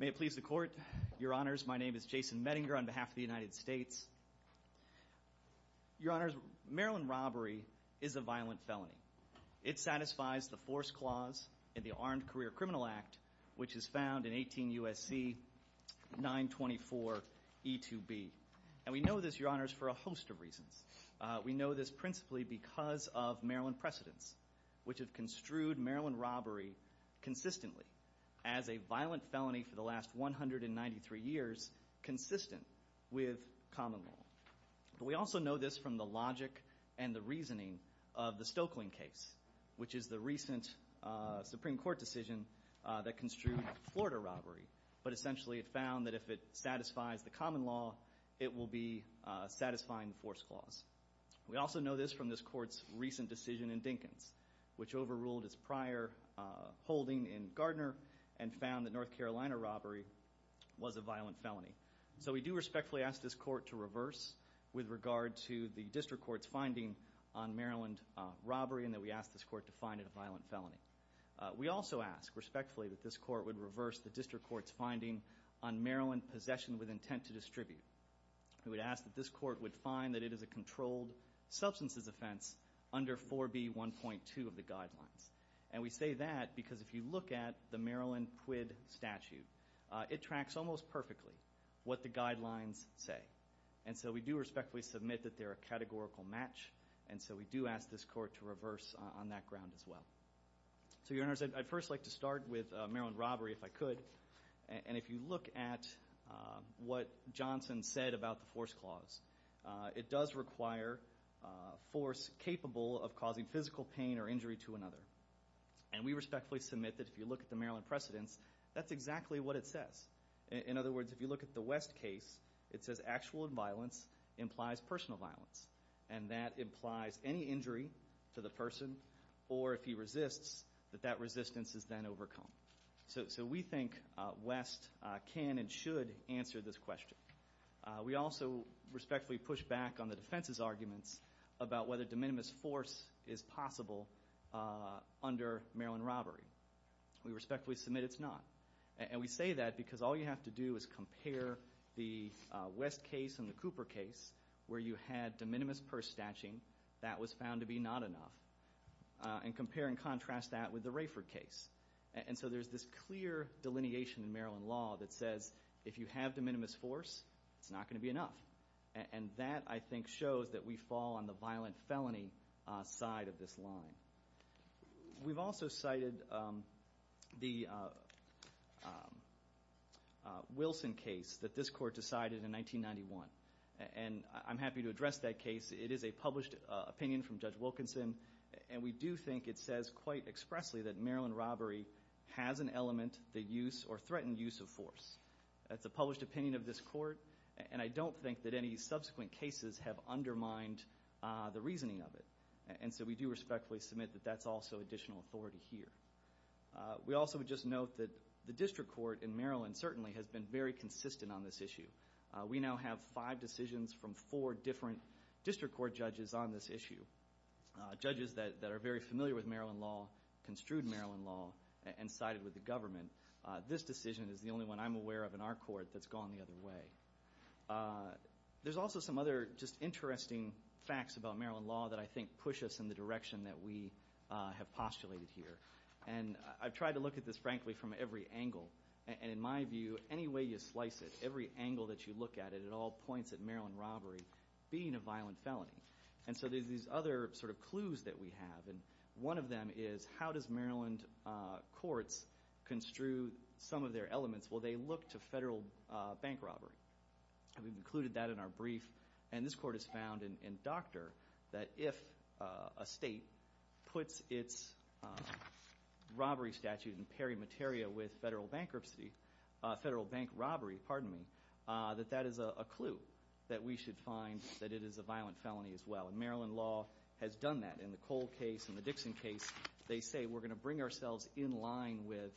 May it please the court, your honors, my name is Jason Mettinger on behalf of the United States. Your honors, Maryland robbery is a violent felony. It satisfies the force clause in the Armed Career Criminal Act, which is found in 18 U.S.C. 924 E2B. And we know this, your honors, for a host of reasons. We know this principally because of Maryland precedents, which have construed Maryland robbery consistently as a violent felony for the last 193 years consistent with common law. We also know this from the logic and the reasoning of the Stokeling case, which is the recent Supreme Court decision that construed Florida robbery, but essentially it found that if it satisfies the common law, it will be satisfying the force clause. We also know this from this court's recent decision in Dinkins, which overruled its prior holding in Gardner and found that North Carolina robbery was a violent felony. So we do respectfully ask this court to reverse with regard to the district court's finding on Maryland robbery and that we ask this court to find it a violent felony. We also ask respectfully that this court would reverse the district court's finding on Maryland possession with intent to distribute. We would ask that this court would find that it is a controlled substances offense under 4B 1.2 of the guidelines. And we say that because if you look at the Maryland quid statute, it tracks almost perfectly what the guidelines say. And so we do respectfully submit that they're a categorical match, and so we do ask this court to reverse on that ground as well. So your honors, I'd first like to start with Maryland robbery, if I could. And if you look at what Johnson said about the force clause, it does require force capable of causing physical pain or injury to another. And we respectfully submit that if you look at the Maryland precedents, that's exactly what it says. In other words, if you look at the West case, it says actual violence implies personal violence. And that implies any injury to the person or if he resists, that that resistance is then overcome. So we think West can and should answer this question. We also respectfully push back on the defense's arguments about whether de minimis force is possible under Maryland robbery. We respectfully submit it's not. And we say that because all you have to do is compare the West case and the Cooper case where you had de minimis purse statching, that was found to be not enough, and compare and contrast that with the Rayford case. And so there's this clear delineation in Maryland law that says if you have de minimis force, it's not going to be enough. And that, I think, shows that we fall on the violent felony side of this line. We've also cited the Wilson case that this court decided in 1991. And I'm happy to address that case. It is a published opinion from Judge Wilkinson. And we do think it says quite expressly that Maryland robbery has an element that use or threatened use of force. That's a published opinion of this court. And I don't think that any subsequent cases have undermined the reasoning of it. And so we do respectfully submit that that's also additional authority here. We also would just note that the district court in Maryland certainly has been very consistent on this issue. We now have five decisions from four different district court judges on this issue. Judges that are very familiar with Maryland law, construed Maryland law, and sided with the government. This decision is the only one I'm aware of in our court that's gone the other way. There's also some other just interesting facts about Maryland law that I think push us in the direction that we have postulated here. And I've tried to look at this, frankly, from every angle. And in my view, any way you slice it, every angle that you look at it, it all points at Maryland robbery being a violent felony. And so there's these other sort of clues that we have. And one of them is, how does Maryland courts construe some of their elements? Well, they look to federal bank robbery. We've included that in our brief. And this court has found in Doctor that if a state puts its robbery statute in peri materia with federal bankruptcy, federal bank robbery, pardon me, that that is a clue that we should find that it is a violent felony as well. And Maryland law has done that. In the Cole case and the Dixon case, they say we're going to bring ourselves in line with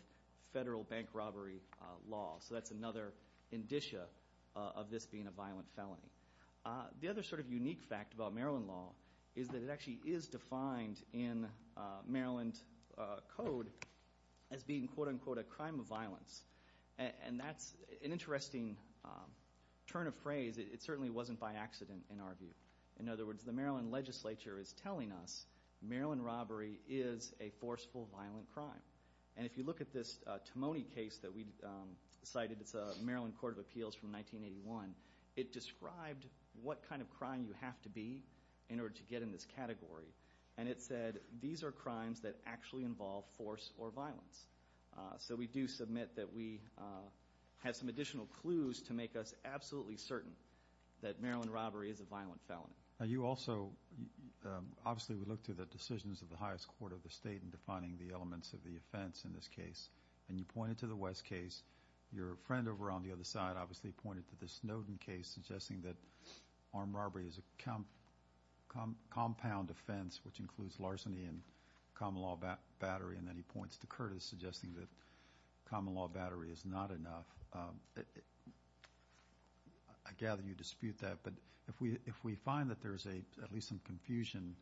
federal bank robbery law. So that's another indicia of this being a violent felony. The other sort of unique fact about Maryland law is that it actually is defined in Maryland code as being, quote unquote, a crime of violence. And that's an interesting turn of phrase. It certainly wasn't by accident in our view. In other words, the Maryland legislature is telling us Maryland robbery is a forceful, violent crime. And if you look at this Timoney case that we cited, it's a Maryland court of appeals from 1981. It described what kind of crime you have to be in order to get in this category. And it said, these are crimes that actually involve force or violence. So we do submit that we have some additional clues to make us absolutely certain that Maryland robbery is a violent felony. You also, obviously we look to the decisions of the highest court of the state in defining the elements of the offense in this case. And you pointed to the West case. Your friend over on the other side obviously pointed to the Snowden case, suggesting that armed robbery is a compound offense, which includes larceny and common law battery. And then he points to Curtis, suggesting that common law battery is not enough. I gather you dispute that, but if we find that there is at least some confusion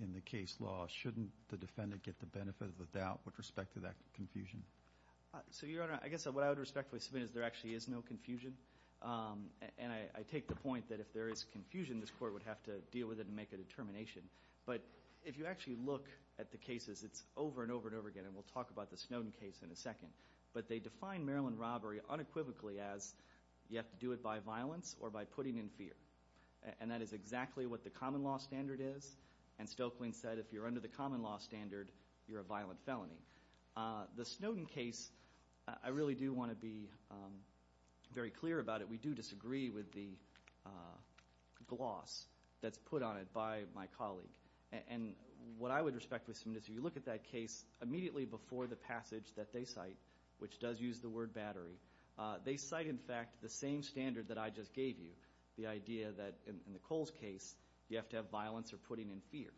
in the case law, shouldn't the defendant get the benefit of the doubt with respect to that confusion? So, Your Honor, I guess what I would respectfully submit is there actually is no confusion. And I take the point that if there is confusion, this court would have to deal with it and make a determination. But if you actually look at the cases, it's over and over and over again, and we'll talk about the Snowden case in a second. But they define Maryland robbery unequivocally as you have to do it by violence or by putting in fear. And that is exactly what the common law standard is. And Stokelyn said if you're under the common law standard, you're a violent felony. The Snowden case, I really do want to be very clear about it. We do disagree with the gloss that's put on it by my colleague. And what I would respectfully submit is if you look at that case immediately before the passage that they cite, which does use the word battery, they cite, in fact, the same standard that I just gave you, the idea that in the Coles case, you have to have violence or putting in fear.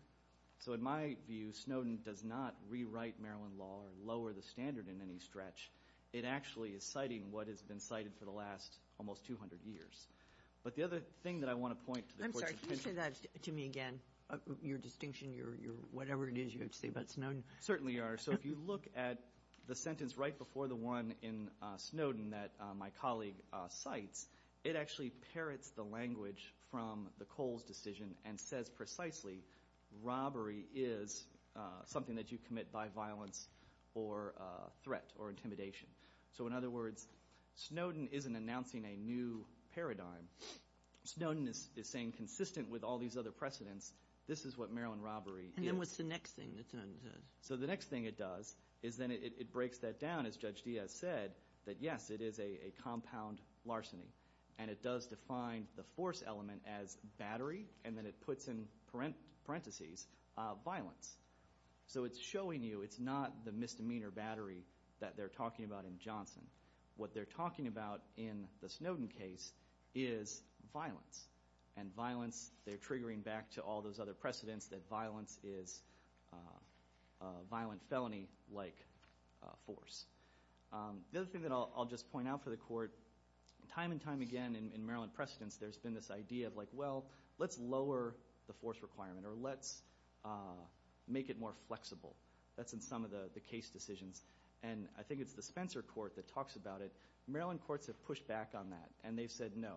So, in my view, Snowden does not rewrite Maryland law or lower the standard in any stretch. It actually is citing what has been cited for the last almost 200 years. But the other thing that I want to point to the courts of pension... I'm sorry. Can you say that to me again? Your distinction, your whatever it is you have to say about Snowden? Certainly are. So if you look at the sentence right before the one in Snowden that my colleague cites, it actually parrots the language from the Coles decision and says precisely robbery is something that you commit by violence or threat or intimidation. So in other words, Snowden isn't announcing a new paradigm. Snowden is saying consistent with all these other precedents, this is what Maryland robbery is. And then what's the next thing? So the next thing it does is then it breaks that down, as Judge Diaz said, that yes, it is a compound larceny. And it does define the force element as battery. And then it puts in parentheses violence. So it's showing you it's not the misdemeanor battery that they're talking about in Johnson. What they're talking about in the Snowden case is violence. And violence, they're triggering back to all those other precedents that violence is violent felony-like force. The other thing that I'll just point out for the court, time and time again in Maryland precedents there's been this idea of like, well, let's lower the force requirement or let's make it more flexible. That's in some of the case decisions. And I think it's the Spencer court that talks about it. Maryland courts have pushed back on that. And they've said, no,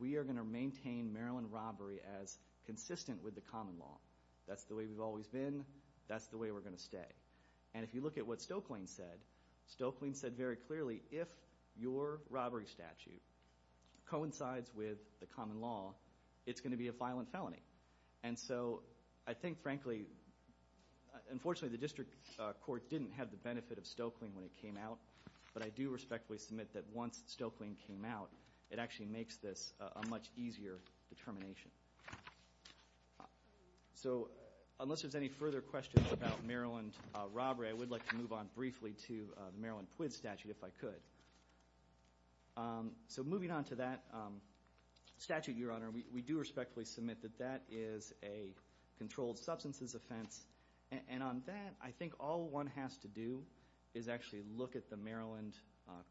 we are going to maintain Maryland robbery as consistent with the common law. That's the way we've always been. That's the way we're going to stay. And if you look at what Stokelyne said, Stokelyne said very clearly, if your robbery statute coincides with the common law, it's going to be a violent felony. And so I think, frankly, unfortunately, the district court didn't have the benefit of Stokelyne when it came out. But I do respectfully submit that once Stokelyne came out, it actually makes this a much easier determination. So unless there's any further questions about Maryland robbery, I would like to move on briefly to the Maryland PUID statute, if I could. So moving on to that statute, Your Honor, we do respectfully submit that that is a controlled substances offense. And on that, I think all one has to do is actually look at the Maryland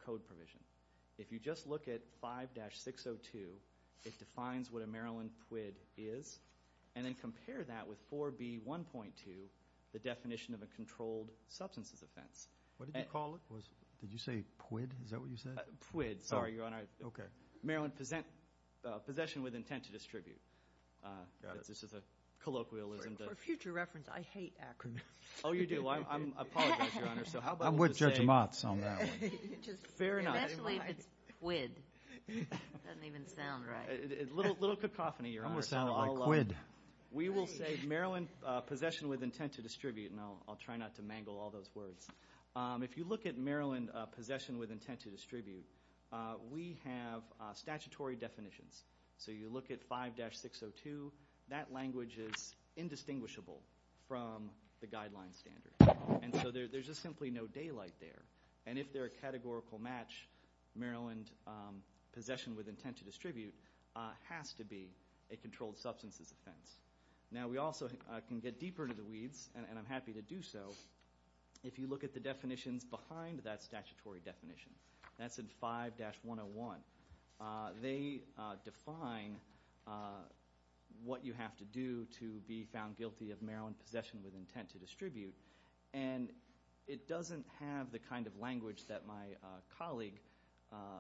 code provision. If you just look at 5-602, it defines what a Maryland PUID is, and then compare that with 4B1.2, the definition of a controlled substances offense. What did you call it? Did you say PUID? Is that what you said? PUID. Sorry, Your Honor. Okay. Maryland possession with intent to distribute. Got it. This is a colloquialism. For future reference, I hate acronyms. Oh, you do? I apologize, Your Honor. I'm with Judge Motz on that one. Fair enough. Especially if it's PUID. It doesn't even sound right. A little cacophony, Your Honor. I'm going to sound like QUID. We will say Maryland possession with intent to distribute, and I'll try not to mangle all those words. If you look at Maryland possession with intent to distribute, we have statutory definitions. So you look at 5-602, that language is indistinguishable from the guideline standard. And so there's just simply no daylight there. And if they're a categorical match, Maryland possession with intent to distribute has to be a controlled substances offense. Now we also can get deeper into the weeds, and I'm happy to do so, if you look at the definitions behind that statutory definition. That's in 5-101. They define what you have to do to be found guilty of Maryland possession with intent to distribute. And it doesn't have the kind of language that my colleague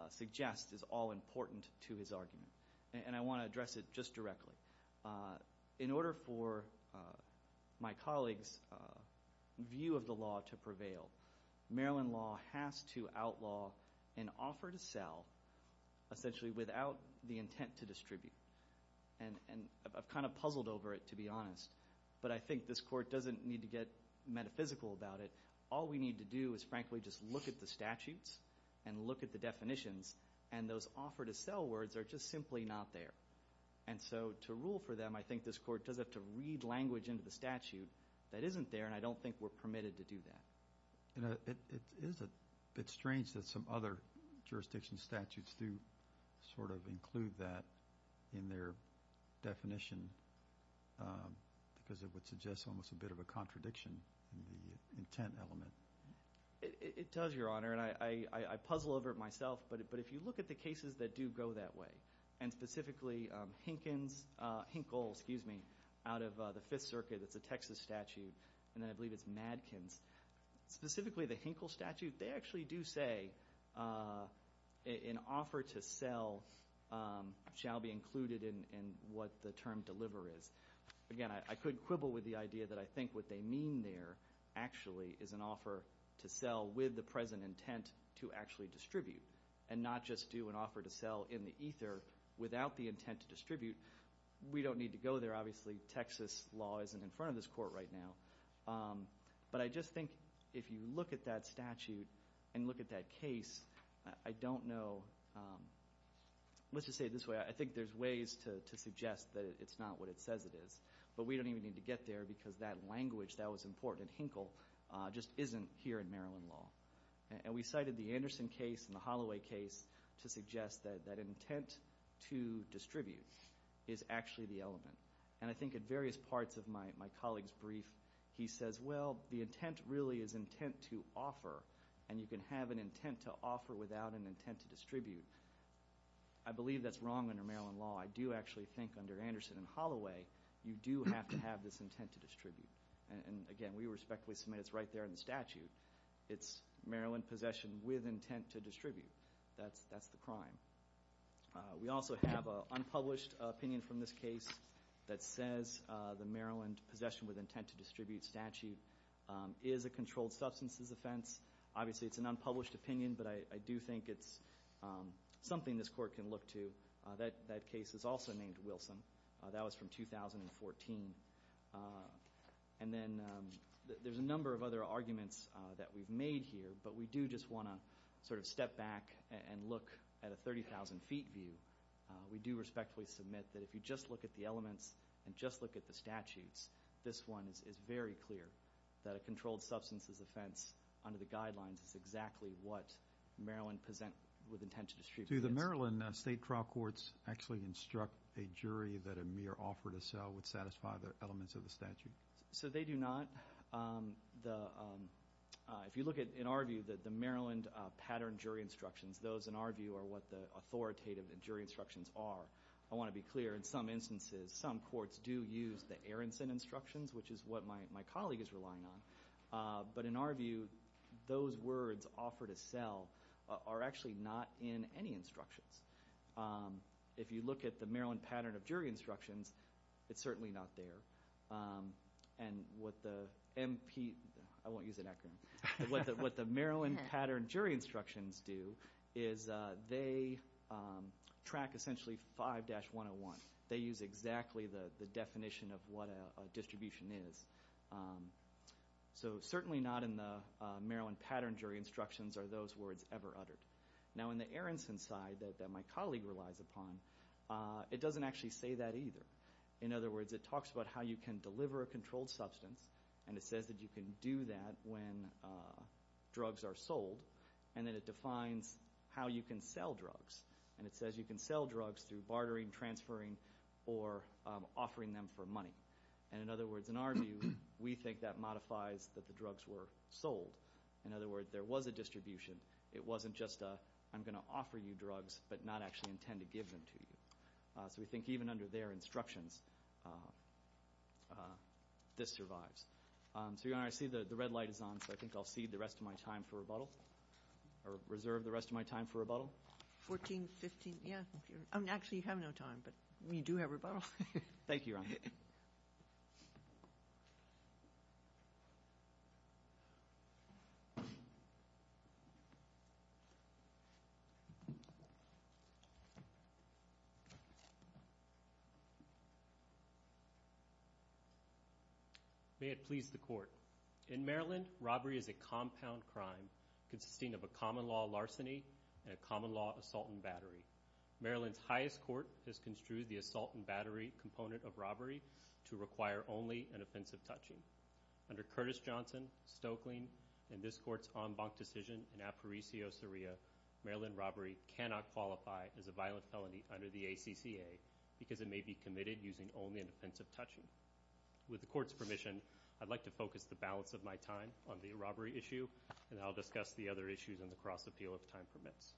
suggests is all important to his argument. And I want to address it just directly. In order for my colleague's view of the law to prevail, Maryland law has to outlaw an offer to sell, essentially without the intent to distribute. And I've kind of puzzled over it, to be honest. But I think this Court doesn't need to get metaphysical about it. All we need to do is, frankly, just look at the statutes and look at the definitions, and those offer to sell words are just simply not there. And so to rule for them, I think this Court does have to read language into the statute that isn't there, and I don't think we're permitted to do that. It is a bit strange that some other jurisdiction statutes do sort of include that in their definition, because it would suggest almost a bit of a contradiction in the intent element. It does, Your Honor, and I puzzle over it myself. But if you look at the cases that do go that way, and specifically Hinkle out of the Fifth Amendment, specifically the Hinkle statute, they actually do say an offer to sell shall be included in what the term deliver is. Again, I could quibble with the idea that I think what they mean there actually is an offer to sell with the present intent to actually distribute, and not just do an offer to sell in the ether without the intent to distribute. We don't need to go there, obviously. Texas law isn't in front of this Court right now. But I just think if you look at that statute and look at that case, I don't know, let's just say it this way, I think there's ways to suggest that it's not what it says it is. But we don't even need to get there, because that language that was important in Hinkle just isn't here in Maryland law. And we cited the Anderson case and the Holloway case to suggest that that intent to distribute is actually the element. And I think at various parts of my colleague's brief, he says, well, the intent really is intent to offer, and you can have an intent to offer without an intent to distribute. I believe that's wrong under Maryland law. I do actually think under Anderson and Holloway, you do have to have this intent to distribute. And again, we respectfully submit it's right there in the statute. It's Maryland possession with intent to distribute. That's the crime. We also have an unpublished opinion from this case that says the Maryland possession with intent to distribute statute is a controlled substances offense. Obviously, it's an unpublished opinion, but I do think it's something this court can look to. That case is also named Wilson. That was from 2014. And then there's a number of other arguments that we've made here, but we do just want to sort of step back and look at a 30,000 feet view. We do respectfully submit that if you just look at the elements and just look at the statutes, this one is very clear that a controlled substances offense under the guidelines is exactly what Maryland present with intent to distribute. Do the Maryland state trial courts actually instruct a jury that a mere offer to sell would satisfy the elements of the statute? So they do not. If you look at, in our view, the Maryland pattern jury instructions, those in our view are what the authoritative jury instructions are. I want to be clear, in some instances, some courts do use the Aronson instructions, which is what my colleague is relying on. But in our view, those words, offer to sell, are actually not in any instructions. If you look at the Maryland pattern of jury instructions, it's certainly not there. And what the MP, I won't use an acronym, what the Maryland pattern jury instructions do is they track essentially 5-101. They use exactly the definition of what a distribution is. So certainly not in the Maryland pattern jury instructions are those words ever uttered. Now in the Aronson side that my colleague relies upon, it doesn't actually say that either. In other words, it talks about how you can deliver a controlled substance, and it says that you can do that when drugs are sold, and then it defines how you can sell drugs. And it says you can sell drugs through bartering, transferring, or offering them for money. And in other words, in our view, we think that modifies that the drugs were sold. In other words, there was a distribution. It wasn't just a, I'm going to offer you drugs, but not actually intend to give them to you. So we think even under their instructions, this survives. So Your Honor, I see the red light is on, so I think I'll cede the rest of my time for rebuttal. Or reserve the rest of my time for rebuttal. 14, 15, yeah. Actually, you have no time, but we do have rebuttal. Thank you, Your Honor. May it please the Court. In Maryland, robbery is a compound crime consisting of a common law larceny and a common law assault and battery. Maryland's highest court has construed the assault and battery component of robbery to require only an offensive touching. Under Curtis Johnson, Stoeckling, and this Court's en banc decision in aparecio seria, Maryland robbery cannot qualify as a violent felony under the ACCA because it may be committed using only an offensive touching. With the Court's permission, I'd like to focus the balance of my time on the robbery issue, and I'll discuss the other issues in the cross-appeal if time permits.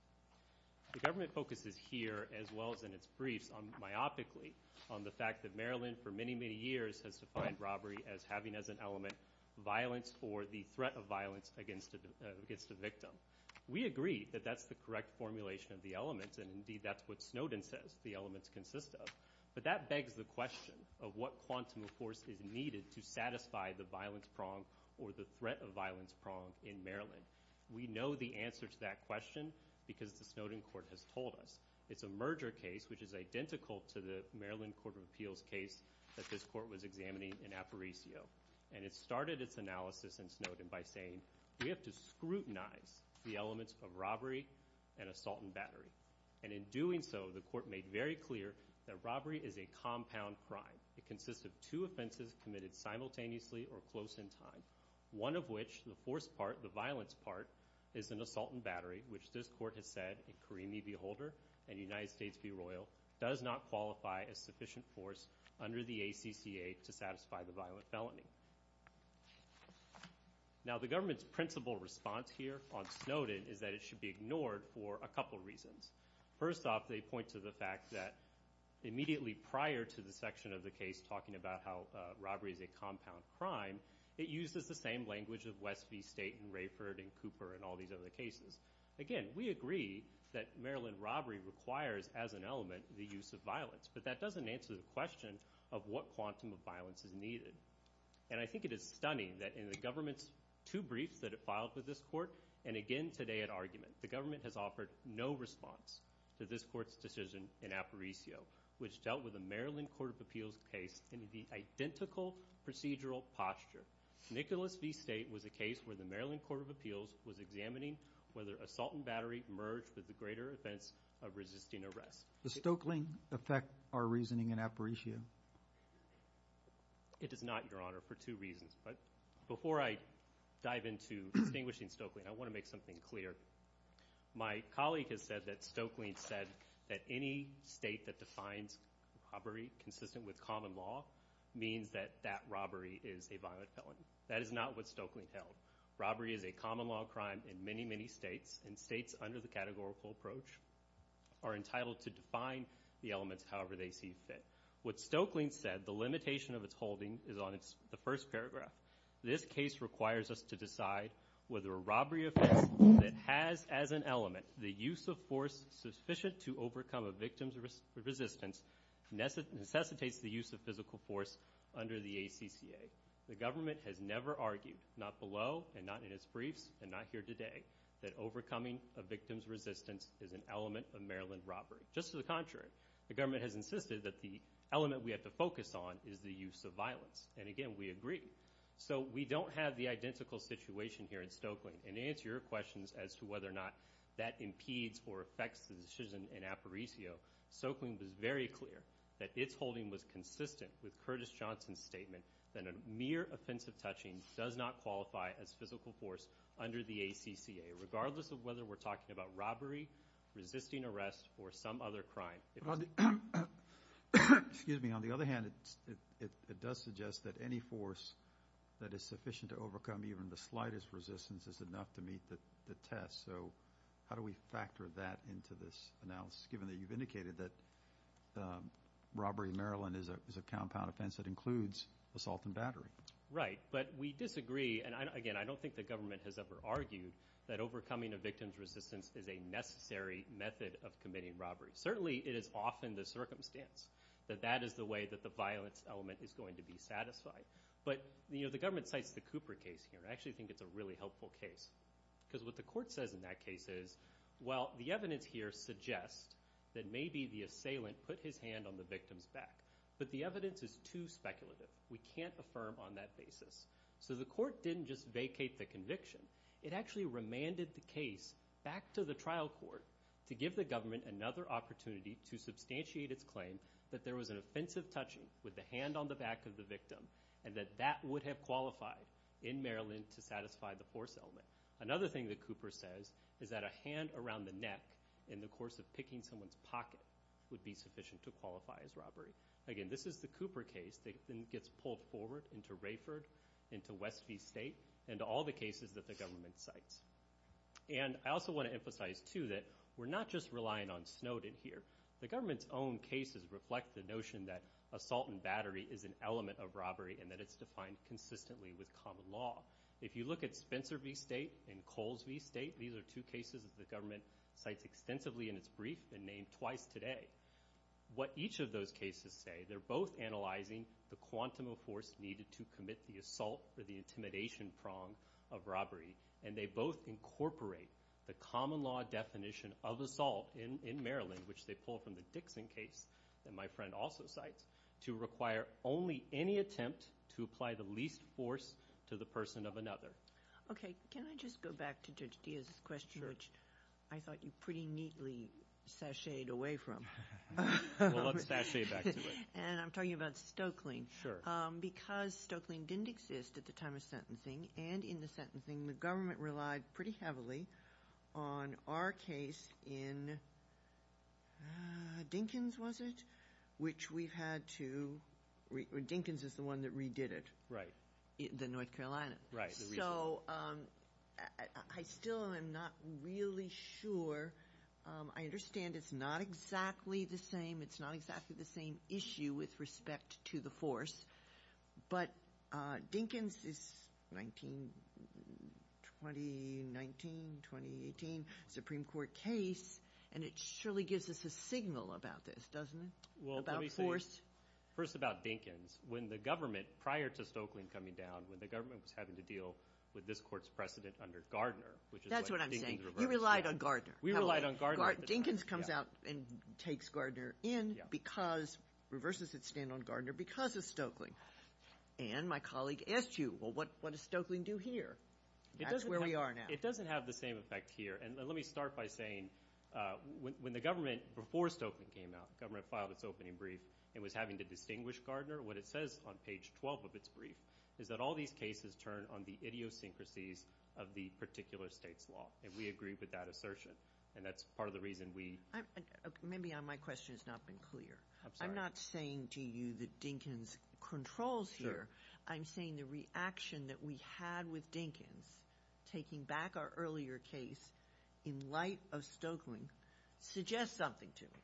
The government focuses here, as well as in its briefs, myopically on the fact that Maryland for many, many years has defined robbery as having as an element violence or the threat of violence against a victim. We agree that that's the correct formulation of the elements, and indeed that's what Snowden says the elements consist of, but that begs the question of what quantum of force is needed to satisfy the violence prong or the threat of violence prong in Maryland. We know the answer to that question because the Snowden Court has told us. It's a merger case which is identical to the Maryland Court of Appeals case that this Court was examining in aparecio, and it started its analysis in Snowden by saying we have to scrutinize the elements of robbery and assault and battery. And in doing so, the Court made very clear that robbery is a compound crime. It consists of two offenses committed simultaneously or close in time. One of which, the force part, the violence part, is an assault and battery, which this Court has said in Carimi v. Holder and United States v. Royal does not qualify as sufficient force under the ACCA to satisfy the violent felony. Now the government's principle response here on Snowden is that it should be ignored for a couple reasons. First off, they point to the fact that immediately prior to the section of the case talking about how robbery is a compound crime, it uses the same language of West v. State and Rayford and Cooper and all these other cases. Again, we agree that Maryland robbery requires as an element the use of violence, but that doesn't answer the question of what quantum of violence is needed. And I think it is stunning that in the government's two briefs that it filed with this Court, and again today at argument, the government has offered no response to this Court's decision in Aparicio, which dealt with a Maryland Court of Appeals case in the identical procedural posture. Nicholas v. State was a case where the Maryland Court of Appeals was examining whether assault and battery merged with the greater offense of resisting arrest. Does Stoeckling affect our reasoning in Aparicio? It does not, Your Honor, for two reasons. But before I dive into distinguishing Stoeckling, I want to make something clear. My colleague has said that Stoeckling said that any state that defines robbery consistent with common law means that that robbery is a violent felony. That is not what Stoeckling held. Robbery is a common law crime in many, many states, and states under the categorical approach are entitled to define the elements however they see fit. What Stoeckling said, the limitation of its holding, is on the first paragraph. This case requires us to decide whether a robbery offense that has as an element the use of force sufficient to overcome a victim's resistance necessitates the use of physical force under the ACCA. The government has never argued, not below and not in its briefs and not here today, that overcoming a victim's resistance is an element of Maryland robbery. Just to the contrary, the government has insisted that the element we have to focus on is the use of violence. And again, we agree. So we don't have the identical situation here in Stoeckling. And to answer your questions as to whether or not that impedes or affects the decision in Aparicio, Stoeckling was very clear that its holding was consistent with Curtis Johnson's statement that a mere offensive touching does not qualify as physical force under the ACCA, regardless of whether we're talking about robbery, resisting arrest, or some other crime. Excuse me. On the other hand, it does suggest that any force that is sufficient to overcome even the slightest resistance is enough to meet the test. So how do we factor that into this analysis, given that you've indicated that robbery in Maryland is a compound offense that includes assault and battery? Right. But we disagree. And again, I don't think the government has ever argued that overcoming a victim's resistance is a necessary method of committing robbery. Certainly, it is often the circumstance that that is the way that the violence element is going to be satisfied. But the government cites the Cooper case here. I actually think it's a really helpful case. Because what the court says in that case is, well, the evidence here suggests that maybe the assailant put his hand on the victim's back. But the evidence is too speculative. We can't affirm on that basis. So the court didn't just vacate the conviction. It actually remanded the case back to the trial court to give the government another opportunity to substantiate its claim that there was an offensive touching with the hand on the back of the victim and that that would have qualified in Maryland to satisfy the force element. Another thing that Cooper says is that a hand around the neck in the course of picking someone's pocket would be sufficient to qualify as robbery. Again, this is the Cooper case that gets pulled forward into Rayford, into West V State, and all the cases that the government cites. And I also want to emphasize, too, that we're not just relying on Snowden here. The government's own cases reflect the notion that assault and battery is an element of robbery and that it's defined consistently with common law. If you look at Spencer V State and Coles V State, these are two cases that the government cites extensively in its brief and named twice today. What each of those cases say, they're both analyzing the quantum of force needed to commit the assault or the intimidation prong of robbery, and they both incorporate the common law definition of assault in Maryland, which they pull from the Dixon case that my friend also cites, to require only any attempt to apply the least force to the person of another. Okay. Can I just go back to Judge Diaz's question, which I thought you pretty neatly sashayed away from. Well, let's sashay back to it. And I'm talking about Stokeling. Because Stokeling didn't exist at the time of sentencing and in the sentencing the government relied pretty heavily on our case in Dinkins, was it, which we've had to Dinkins is the one that redid it. Right. The North Carolina. Right. So I still am not really sure. I understand it's not exactly the same. It's not exactly the same issue with respect to the force. But Dinkins is 2019, 2018 Supreme Court case, and it surely gives us a signal about this, doesn't it, about force? Well, let me say first about Dinkins. When the government, prior to Stokeling coming down, when the government was having to deal with this court's precedent under Gardner. That's what I'm saying. You relied on Gardner. We relied on Gardner. Dinkins comes out and takes Gardner in because, reverses its stand on Gardner because of Stokeling. And my colleague asked you, well, what does Stokeling do here? That's where we are now. It doesn't have the same effect here. And let me start by saying when the government, before Stokeling came out, the government filed its opening brief and was having to distinguish Gardner, what it says on page 12 of its brief, is that all these cases turn on the idiosyncrasies of the particular state's law. And we agree with that assertion, and that's part of the reason we. Maybe my question has not been clear. I'm not saying to you that Dinkins controls here. I'm saying the reaction that we had with Dinkins, taking back our earlier case in light of Stokeling, suggests something to me.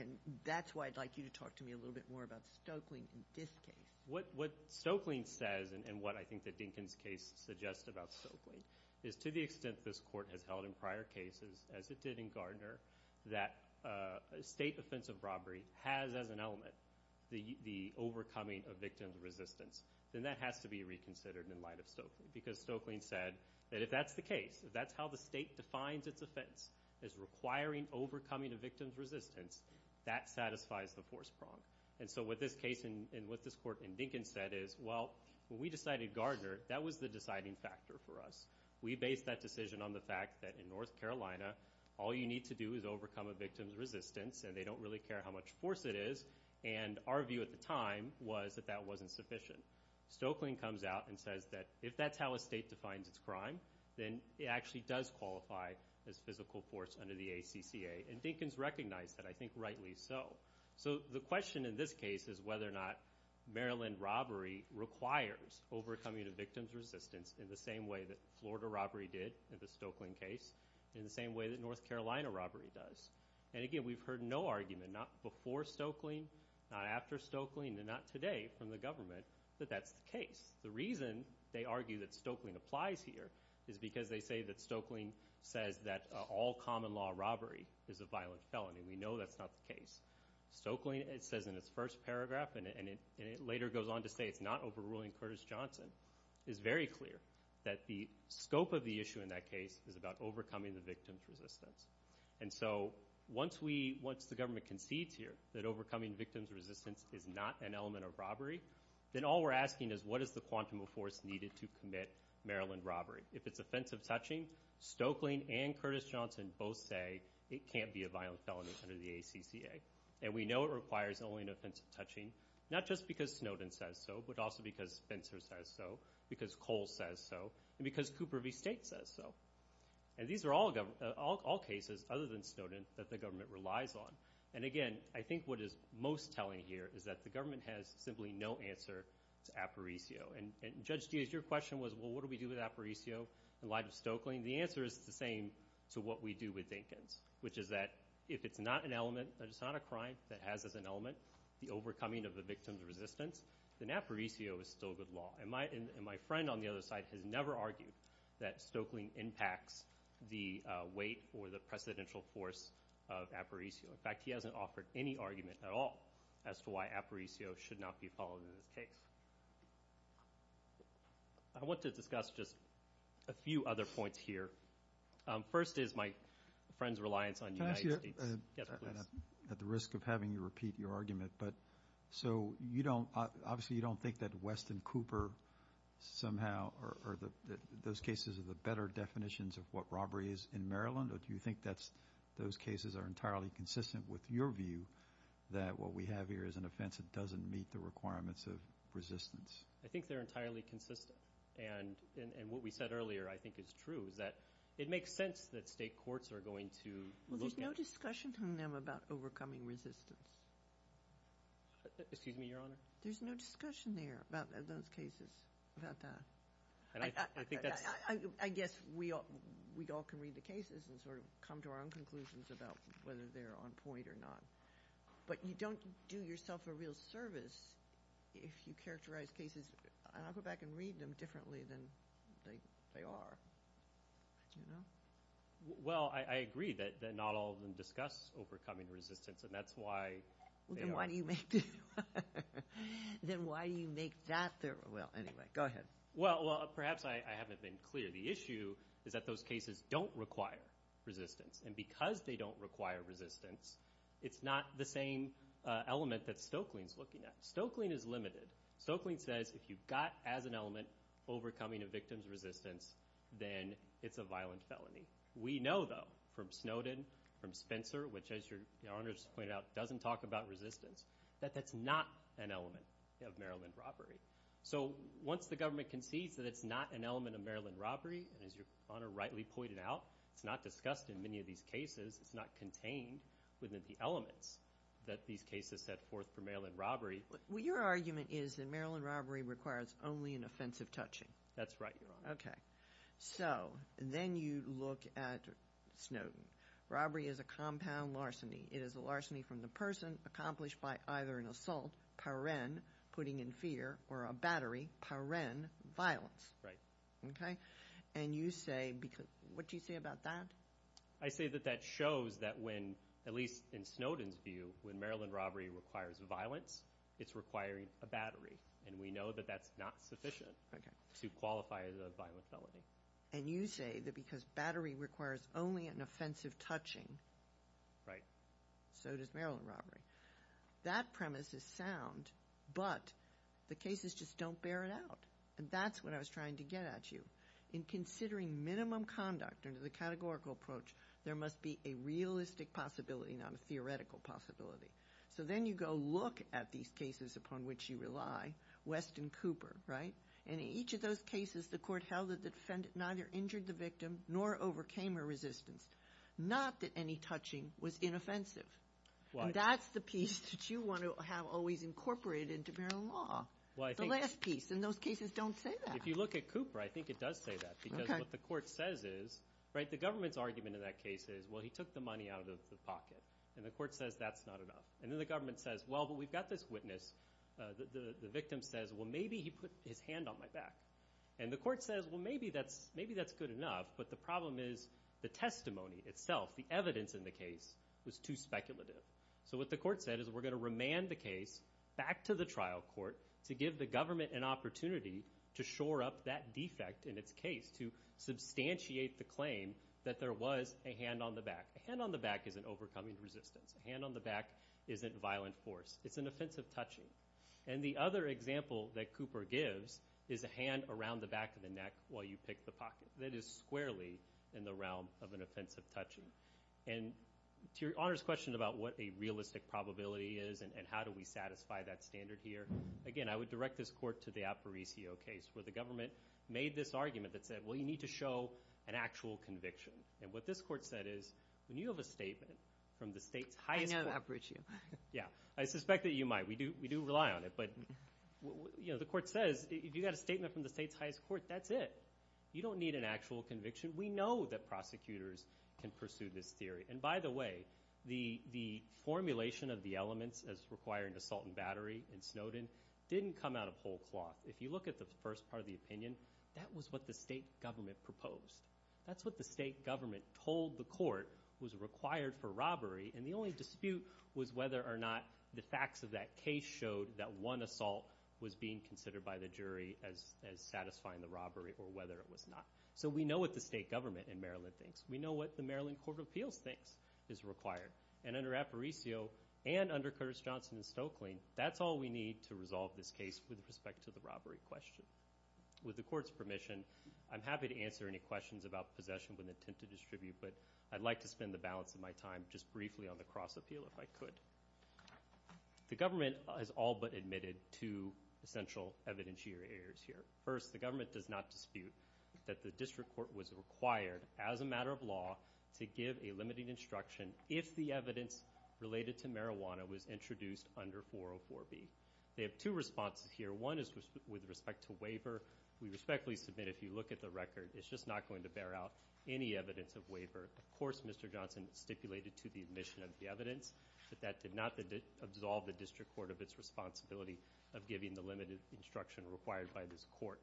And that's why I'd like you to talk to me a little bit more about Stokeling in this case. What Stokeling says, and what I think that Dinkins' case suggests about Stokeling, is to the extent this court has held in prior cases, as it did in Gardner, that a state offense of robbery has as an element the overcoming of victim's resistance, then that has to be reconsidered in light of Stokeling. Because Stokeling said that if that's the case, if that's how the state defines its offense as requiring overcoming of victim's resistance, that satisfies the force prong. And so what this case and what this court in Dinkins said is, well, when we decided Gardner, that was the deciding factor for us. We based that decision on the fact that in North Carolina, all you need to do is overcome a victim's resistance, and they don't really care how much force it is. And our view at the time was that that wasn't sufficient. Stokeling comes out and says that if that's how a state defines its crime, then it actually does qualify as physical force under the ACCA. And Dinkins recognized that, I think rightly so. So the question in this case is whether or not Maryland robbery requires overcoming of victim's resistance in the same way that Florida robbery did in the Stokeling case, in the same way that North Carolina robbery does. And again, we've heard no argument, not before Stokeling, not after Stokeling, and not today from the government, that that's the case. The reason they argue that Stokeling applies here is because they say that Stokeling says that all common law robbery is a violent felony. We know that's not the case. Stokeling says in its first paragraph, and it later goes on to say it's not overruling Curtis Johnson, is very clear that the scope of the issue in that case is about overcoming the victim's resistance. And so once the government concedes here that overcoming victim's resistance is not an element of robbery, then all we're asking is what is the quantum of force needed to commit Maryland robbery. If it's offensive touching, Stokeling and Curtis Johnson both say it can't be a violent felony under the ACCA. And we know it requires only an offensive touching, not just because Snowden says so, but also because Spencer says so, because Cole says so, and because Cooper v. State says so. And these are all cases, other than Snowden, that the government relies on. And, again, I think what is most telling here is that the government has simply no answer to Aparicio. And, Judge Diaz, your question was, well, what do we do with Aparicio in light of Stokeling? The answer is the same to what we do with Dinkins, which is that if it's not an element, if it's not a crime that has as an element the overcoming of the victim's resistance, then Aparicio is still good law. And my friend on the other side has never argued that Stokeling impacts the weight or the precedential force of Aparicio. In fact, he hasn't offered any argument at all as to why Aparicio should not be followed in this case. I want to discuss just a few other points here. First is my friend's reliance on the United States. Can I ask you, at the risk of having you repeat your argument, but so you don't – obviously you don't think that West and Cooper somehow are – those cases are the better definitions of what robbery is in Maryland, or do you think that those cases are entirely consistent with your view that what we have here is an offense that doesn't meet the requirements of resistance? I think they're entirely consistent, and what we said earlier I think is true, is that it makes sense that state courts are going to look at – Well, there's no discussion among them about overcoming resistance. Excuse me, Your Honor? There's no discussion there about those cases, about that. And I think that's – I guess we all can read the cases and sort of come to our own conclusions about whether they're on point or not. But you don't do yourself a real service if you characterize cases – and I'll go back and read them differently than they are. Well, I agree that not all of them discuss overcoming resistance, and that's why they are – Then why do you make that – well, anyway, go ahead. Well, perhaps I haven't been clear. The issue is that those cases don't require resistance, and because they don't require resistance, it's not the same element that Stokelyne's looking at. Stokelyne is limited. Stokelyne says if you've got as an element overcoming a victim's resistance, then it's a violent felony. We know, though, from Snowden, from Spencer, which, as Your Honor's pointed out, doesn't talk about resistance, that that's not an element of Maryland robbery. So once the government concedes that it's not an element of Maryland robbery, and as Your Honor rightly pointed out, it's not discussed in many of these cases. It's not contained within the elements that these cases set forth for Maryland robbery. Well, your argument is that Maryland robbery requires only an offensive touching. That's right, Your Honor. Okay. So then you look at Snowden. Robbery is a compound larceny. It is a larceny from the person accomplished by either an assault, paren, putting in fear, or a battery, paren, violence. Right. Okay? And you say, what do you say about that? I say that that shows that when, at least in Snowden's view, when Maryland robbery requires violence, it's requiring a battery, and we know that that's not sufficient to qualify as a violent felony. And you say that because battery requires only an offensive touching. Right. So does Maryland robbery. That premise is sound, but the cases just don't bear it out. And that's what I was trying to get at you. In considering minimum conduct under the categorical approach, there must be a realistic possibility, not a theoretical possibility. So then you go look at these cases upon which you rely, West and Cooper, right? And in each of those cases, the court held that the defendant neither injured the victim nor overcame her resistance, not that any touching was inoffensive. And that's the piece that you want to have always incorporated into Maryland law, the last piece. And those cases don't say that. If you look at Cooper, I think it does say that because what the court says is, right, the government's argument in that case is, well, he took the money out of the pocket. And the court says that's not enough. And then the government says, well, but we've got this witness. The victim says, well, maybe he put his hand on my back. And the court says, well, maybe that's good enough. But the problem is the testimony itself, the evidence in the case, was too speculative. So what the court said is we're going to remand the case back to the trial court to give the government an opportunity to shore up that defect in its case, to substantiate the claim that there was a hand on the back. A hand on the back isn't overcoming resistance. A hand on the back isn't violent force. It's an offensive touching. And the other example that Cooper gives is a hand around the back of the neck while you pick the pocket. That is squarely in the realm of an offensive touching. And to your Honor's question about what a realistic probability is and how do we satisfy that standard here, again, I would direct this court to the Aparicio case where the government made this argument that said, well, you need to show an actual conviction. And what this court said is when you have a statement from the state's highest court. I know the Aparicio. Yeah, I suspect that you might. We do rely on it. But the court says if you've got a statement from the state's highest court, that's it. You don't need an actual conviction. We know that prosecutors can pursue this theory. And by the way, the formulation of the elements as requiring assault and battery in Snowden didn't come out of whole cloth. If you look at the first part of the opinion, that was what the state government proposed. And the only dispute was whether or not the facts of that case showed that one assault was being considered by the jury as satisfying the robbery or whether it was not. So we know what the state government in Maryland thinks. We know what the Maryland Court of Appeals thinks is required. And under Aparicio and under Curtis Johnson and Stoeckling, that's all we need to resolve this case with respect to the robbery question. With the court's permission, I'm happy to answer any questions about possession with intent to distribute, but I'd like to spend the balance of my time just briefly on the cross appeal if I could. The government has all but admitted two essential evidence here. First, the government does not dispute that the district court was required, as a matter of law, to give a limiting instruction if the evidence related to marijuana was introduced under 404B. They have two responses here. One is with respect to waiver. We respectfully submit if you look at the record. It's just not going to bear out any evidence of waiver. Of course, Mr. Johnson stipulated to the admission of the evidence that that did not absolve the district court of its responsibility of giving the limited instruction required by this court.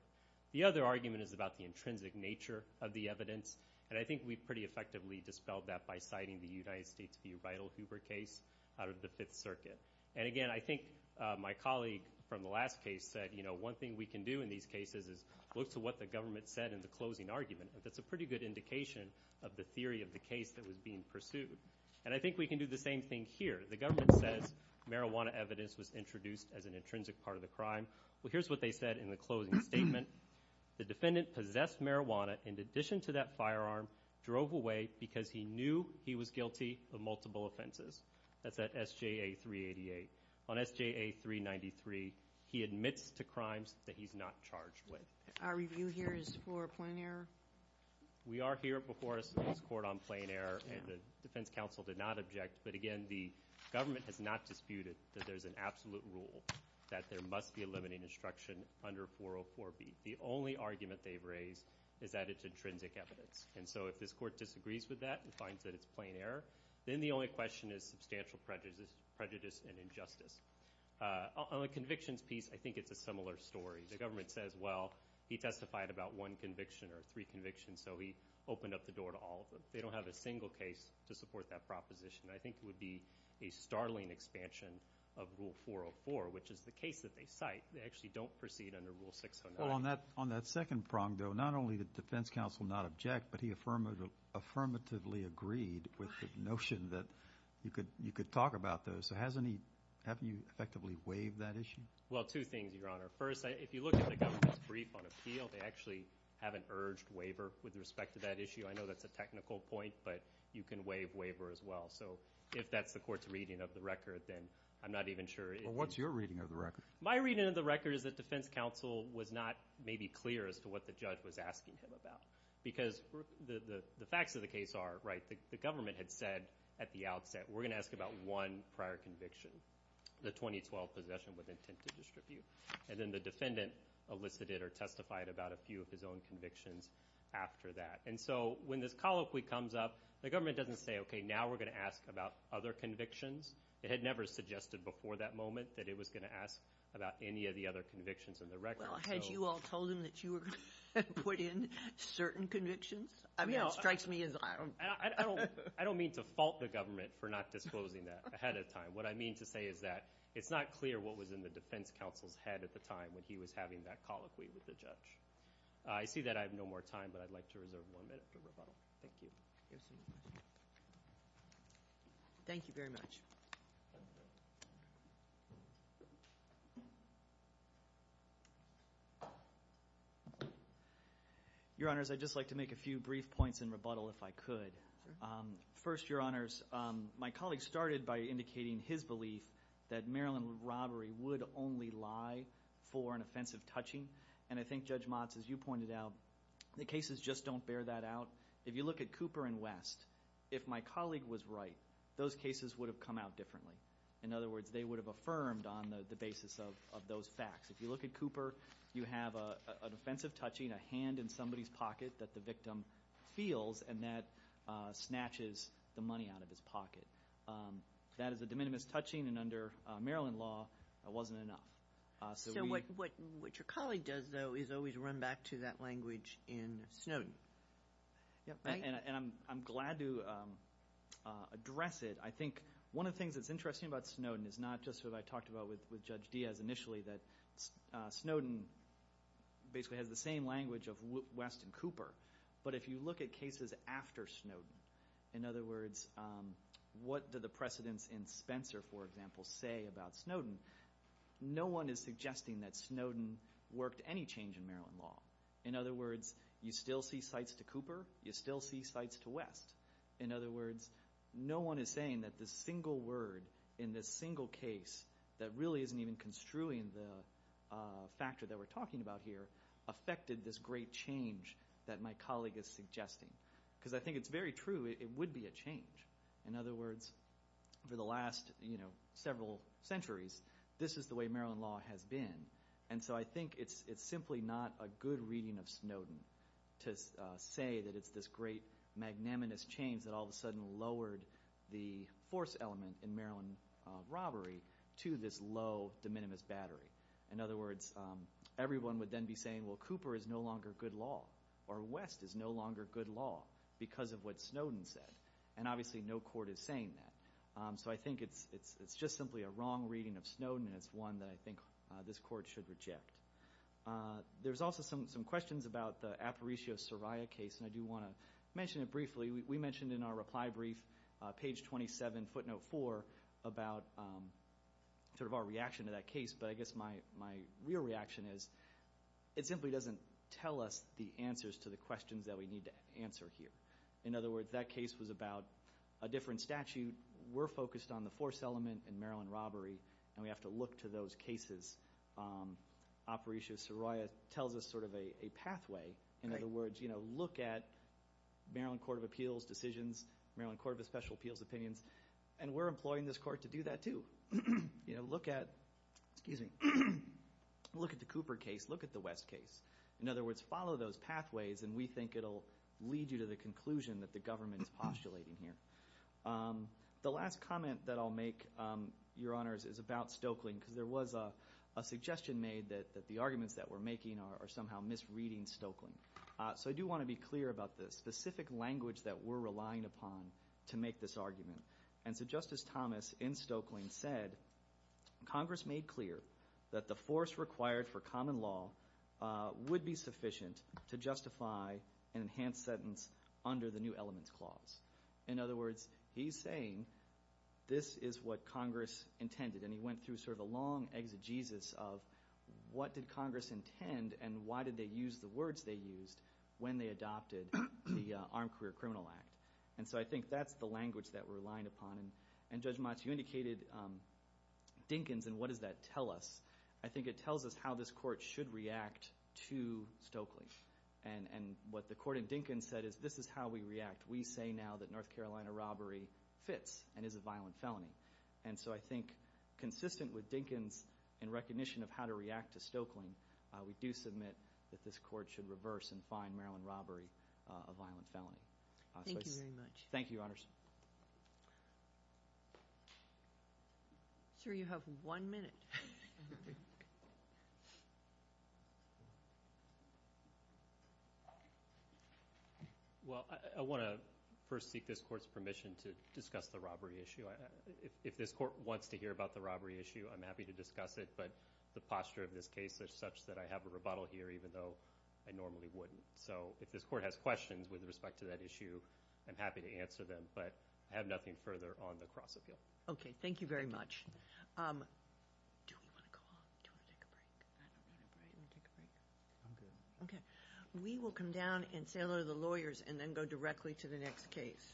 The other argument is about the intrinsic nature of the evidence, and I think we pretty effectively dispelled that by citing the United States v. Rytle Hoover case out of the Fifth Circuit. And, again, I think my colleague from the last case said, you know, one thing we can do in these cases is look to what the government said in the closing argument, and that's a pretty good indication of the theory of the case that was being pursued. And I think we can do the same thing here. The government says marijuana evidence was introduced as an intrinsic part of the crime. Well, here's what they said in the closing statement. The defendant possessed marijuana in addition to that firearm, drove away because he knew he was guilty of multiple offenses. That's at SJA 388. On SJA 393, he admits to crimes that he's not charged with. Our review here is for a plain error? We are here before this court on plain error, and the defense counsel did not object. But, again, the government has not disputed that there's an absolute rule that there must be a limited instruction under 404B. The only argument they've raised is that it's intrinsic evidence. And so if this court disagrees with that and finds that it's plain error, then the only question is substantial prejudice and injustice. On the convictions piece, I think it's a similar story. The government says, well, he testified about one conviction or three convictions, so he opened up the door to all of them. They don't have a single case to support that proposition. I think it would be a startling expansion of Rule 404, which is the case that they cite. They actually don't proceed under Rule 609. Well, on that second prong, though, not only did the defense counsel not object, but he affirmatively agreed with the notion that you could talk about those. So haven't you effectively waived that issue? Well, two things, Your Honor. First, if you look at the government's brief on appeal, they actually haven't urged waiver with respect to that issue. I know that's a technical point, but you can waive waiver as well. So if that's the court's reading of the record, then I'm not even sure if you— Well, what's your reading of the record? My reading of the record is that defense counsel was not maybe clear as to what the judge was asking him about. Because the facts of the case are, right, the government had said at the outset, we're going to ask about one prior conviction, the 2012 possession with intent to distribute. And then the defendant elicited or testified about a few of his own convictions after that. And so when this colloquy comes up, the government doesn't say, okay, now we're going to ask about other convictions. It had never suggested before that moment that it was going to ask about any of the other convictions in the record. Well, had you all told him that you were going to put in certain convictions? I mean, it strikes me as— I don't mean to fault the government for not disclosing that ahead of time. What I mean to say is that it's not clear what was in the defense counsel's head at the time when he was having that colloquy with the judge. I see that I have no more time, but I'd like to reserve one minute for rebuttal. Thank you. Thank you very much. Your Honors, I'd just like to make a few brief points in rebuttal if I could. First, Your Honors, my colleague started by indicating his belief that Maryland robbery would only lie for an offensive touching. And I think Judge Motz, as you pointed out, the cases just don't bear that out. If you look at Cooper and West, if my colleague was right, those cases would have come out differently. In other words, they would have affirmed on the basis of those facts. If you look at Cooper, you have an offensive touching, a hand in somebody's pocket that the victim feels, and that snatches the money out of his pocket. That is a de minimis touching, and under Maryland law, it wasn't enough. So what your colleague does, though, is always run back to that language in Snowden, right? And I'm glad to address it. I think one of the things that's interesting about Snowden is not just what I talked about with Judge Diaz initially, that Snowden basically has the same language of West and Cooper, but if you look at cases after Snowden, in other words, what do the precedents in Spencer, for example, say about Snowden? No one is suggesting that Snowden worked any change in Maryland law. In other words, you still see sites to Cooper. You still see sites to West. In other words, no one is saying that the single word in this single case that really isn't even construing the factor that we're talking about here affected this great change that my colleague is suggesting. Because I think it's very true it would be a change. In other words, for the last several centuries, this is the way Maryland law has been. And so I think it's simply not a good reading of Snowden to say that it's this great magnanimous change that all of a sudden lowered the force element in Maryland robbery to this low de minimis battery. In other words, everyone would then be saying, well, Cooper is no longer good law, or West is no longer good law because of what Snowden said. And obviously no court is saying that. So I think it's just simply a wrong reading of Snowden, and it's one that I think this court should reject. There's also some questions about the Aparicio-Soraya case, and I do want to mention it briefly. We mentioned in our reply brief, page 27, footnote 4, about sort of our reaction to that case. But I guess my real reaction is it simply doesn't tell us the answers to the questions that we need to answer here. In other words, that case was about a different statute. We're focused on the force element in Maryland robbery, and we have to look to those cases. Aparicio-Soraya tells us sort of a pathway. In other words, look at Maryland Court of Appeals decisions, Maryland Court of Special Appeals opinions, and we're employing this court to do that too. Look at the Cooper case. Look at the West case. In other words, follow those pathways, and we think it will lead you to the conclusion that the government is postulating here. The last comment that I'll make, Your Honors, is about Stokeling, because there was a suggestion made that the arguments that we're making are somehow misreading Stokeling. So I do want to be clear about this. The specific language that we're relying upon to make this argument. And so Justice Thomas in Stokeling said, Congress made clear that the force required for common law would be sufficient to justify an enhanced sentence under the new elements clause. In other words, he's saying this is what Congress intended, and he went through sort of a long exegesis of what did Congress intend and why did they use the words they used when they adopted the Armed Career Criminal Act. And so I think that's the language that we're relying upon. And Judge Motz, you indicated Dinkins, and what does that tell us? I think it tells us how this court should react to Stokeling. And what the court in Dinkins said is this is how we react. We say now that North Carolina robbery fits and is a violent felony. And so I think consistent with Dinkins in recognition of how to react to Stokeling, we do submit that this court should reverse and find Maryland robbery a violent felony. Thank you very much. Thank you, Your Honors. Sir, you have one minute. Well, I want to first seek this court's permission to discuss the robbery issue. If this court wants to hear about the robbery issue, I'm happy to discuss it, but the posture of this case is such that I have a rebuttal here even though I normally wouldn't. So if this court has questions with respect to that issue, I'm happy to answer them, but I have nothing further on the cross-appeal. Okay. Thank you very much. We will come down and say hello to the lawyers and then go directly to the next case.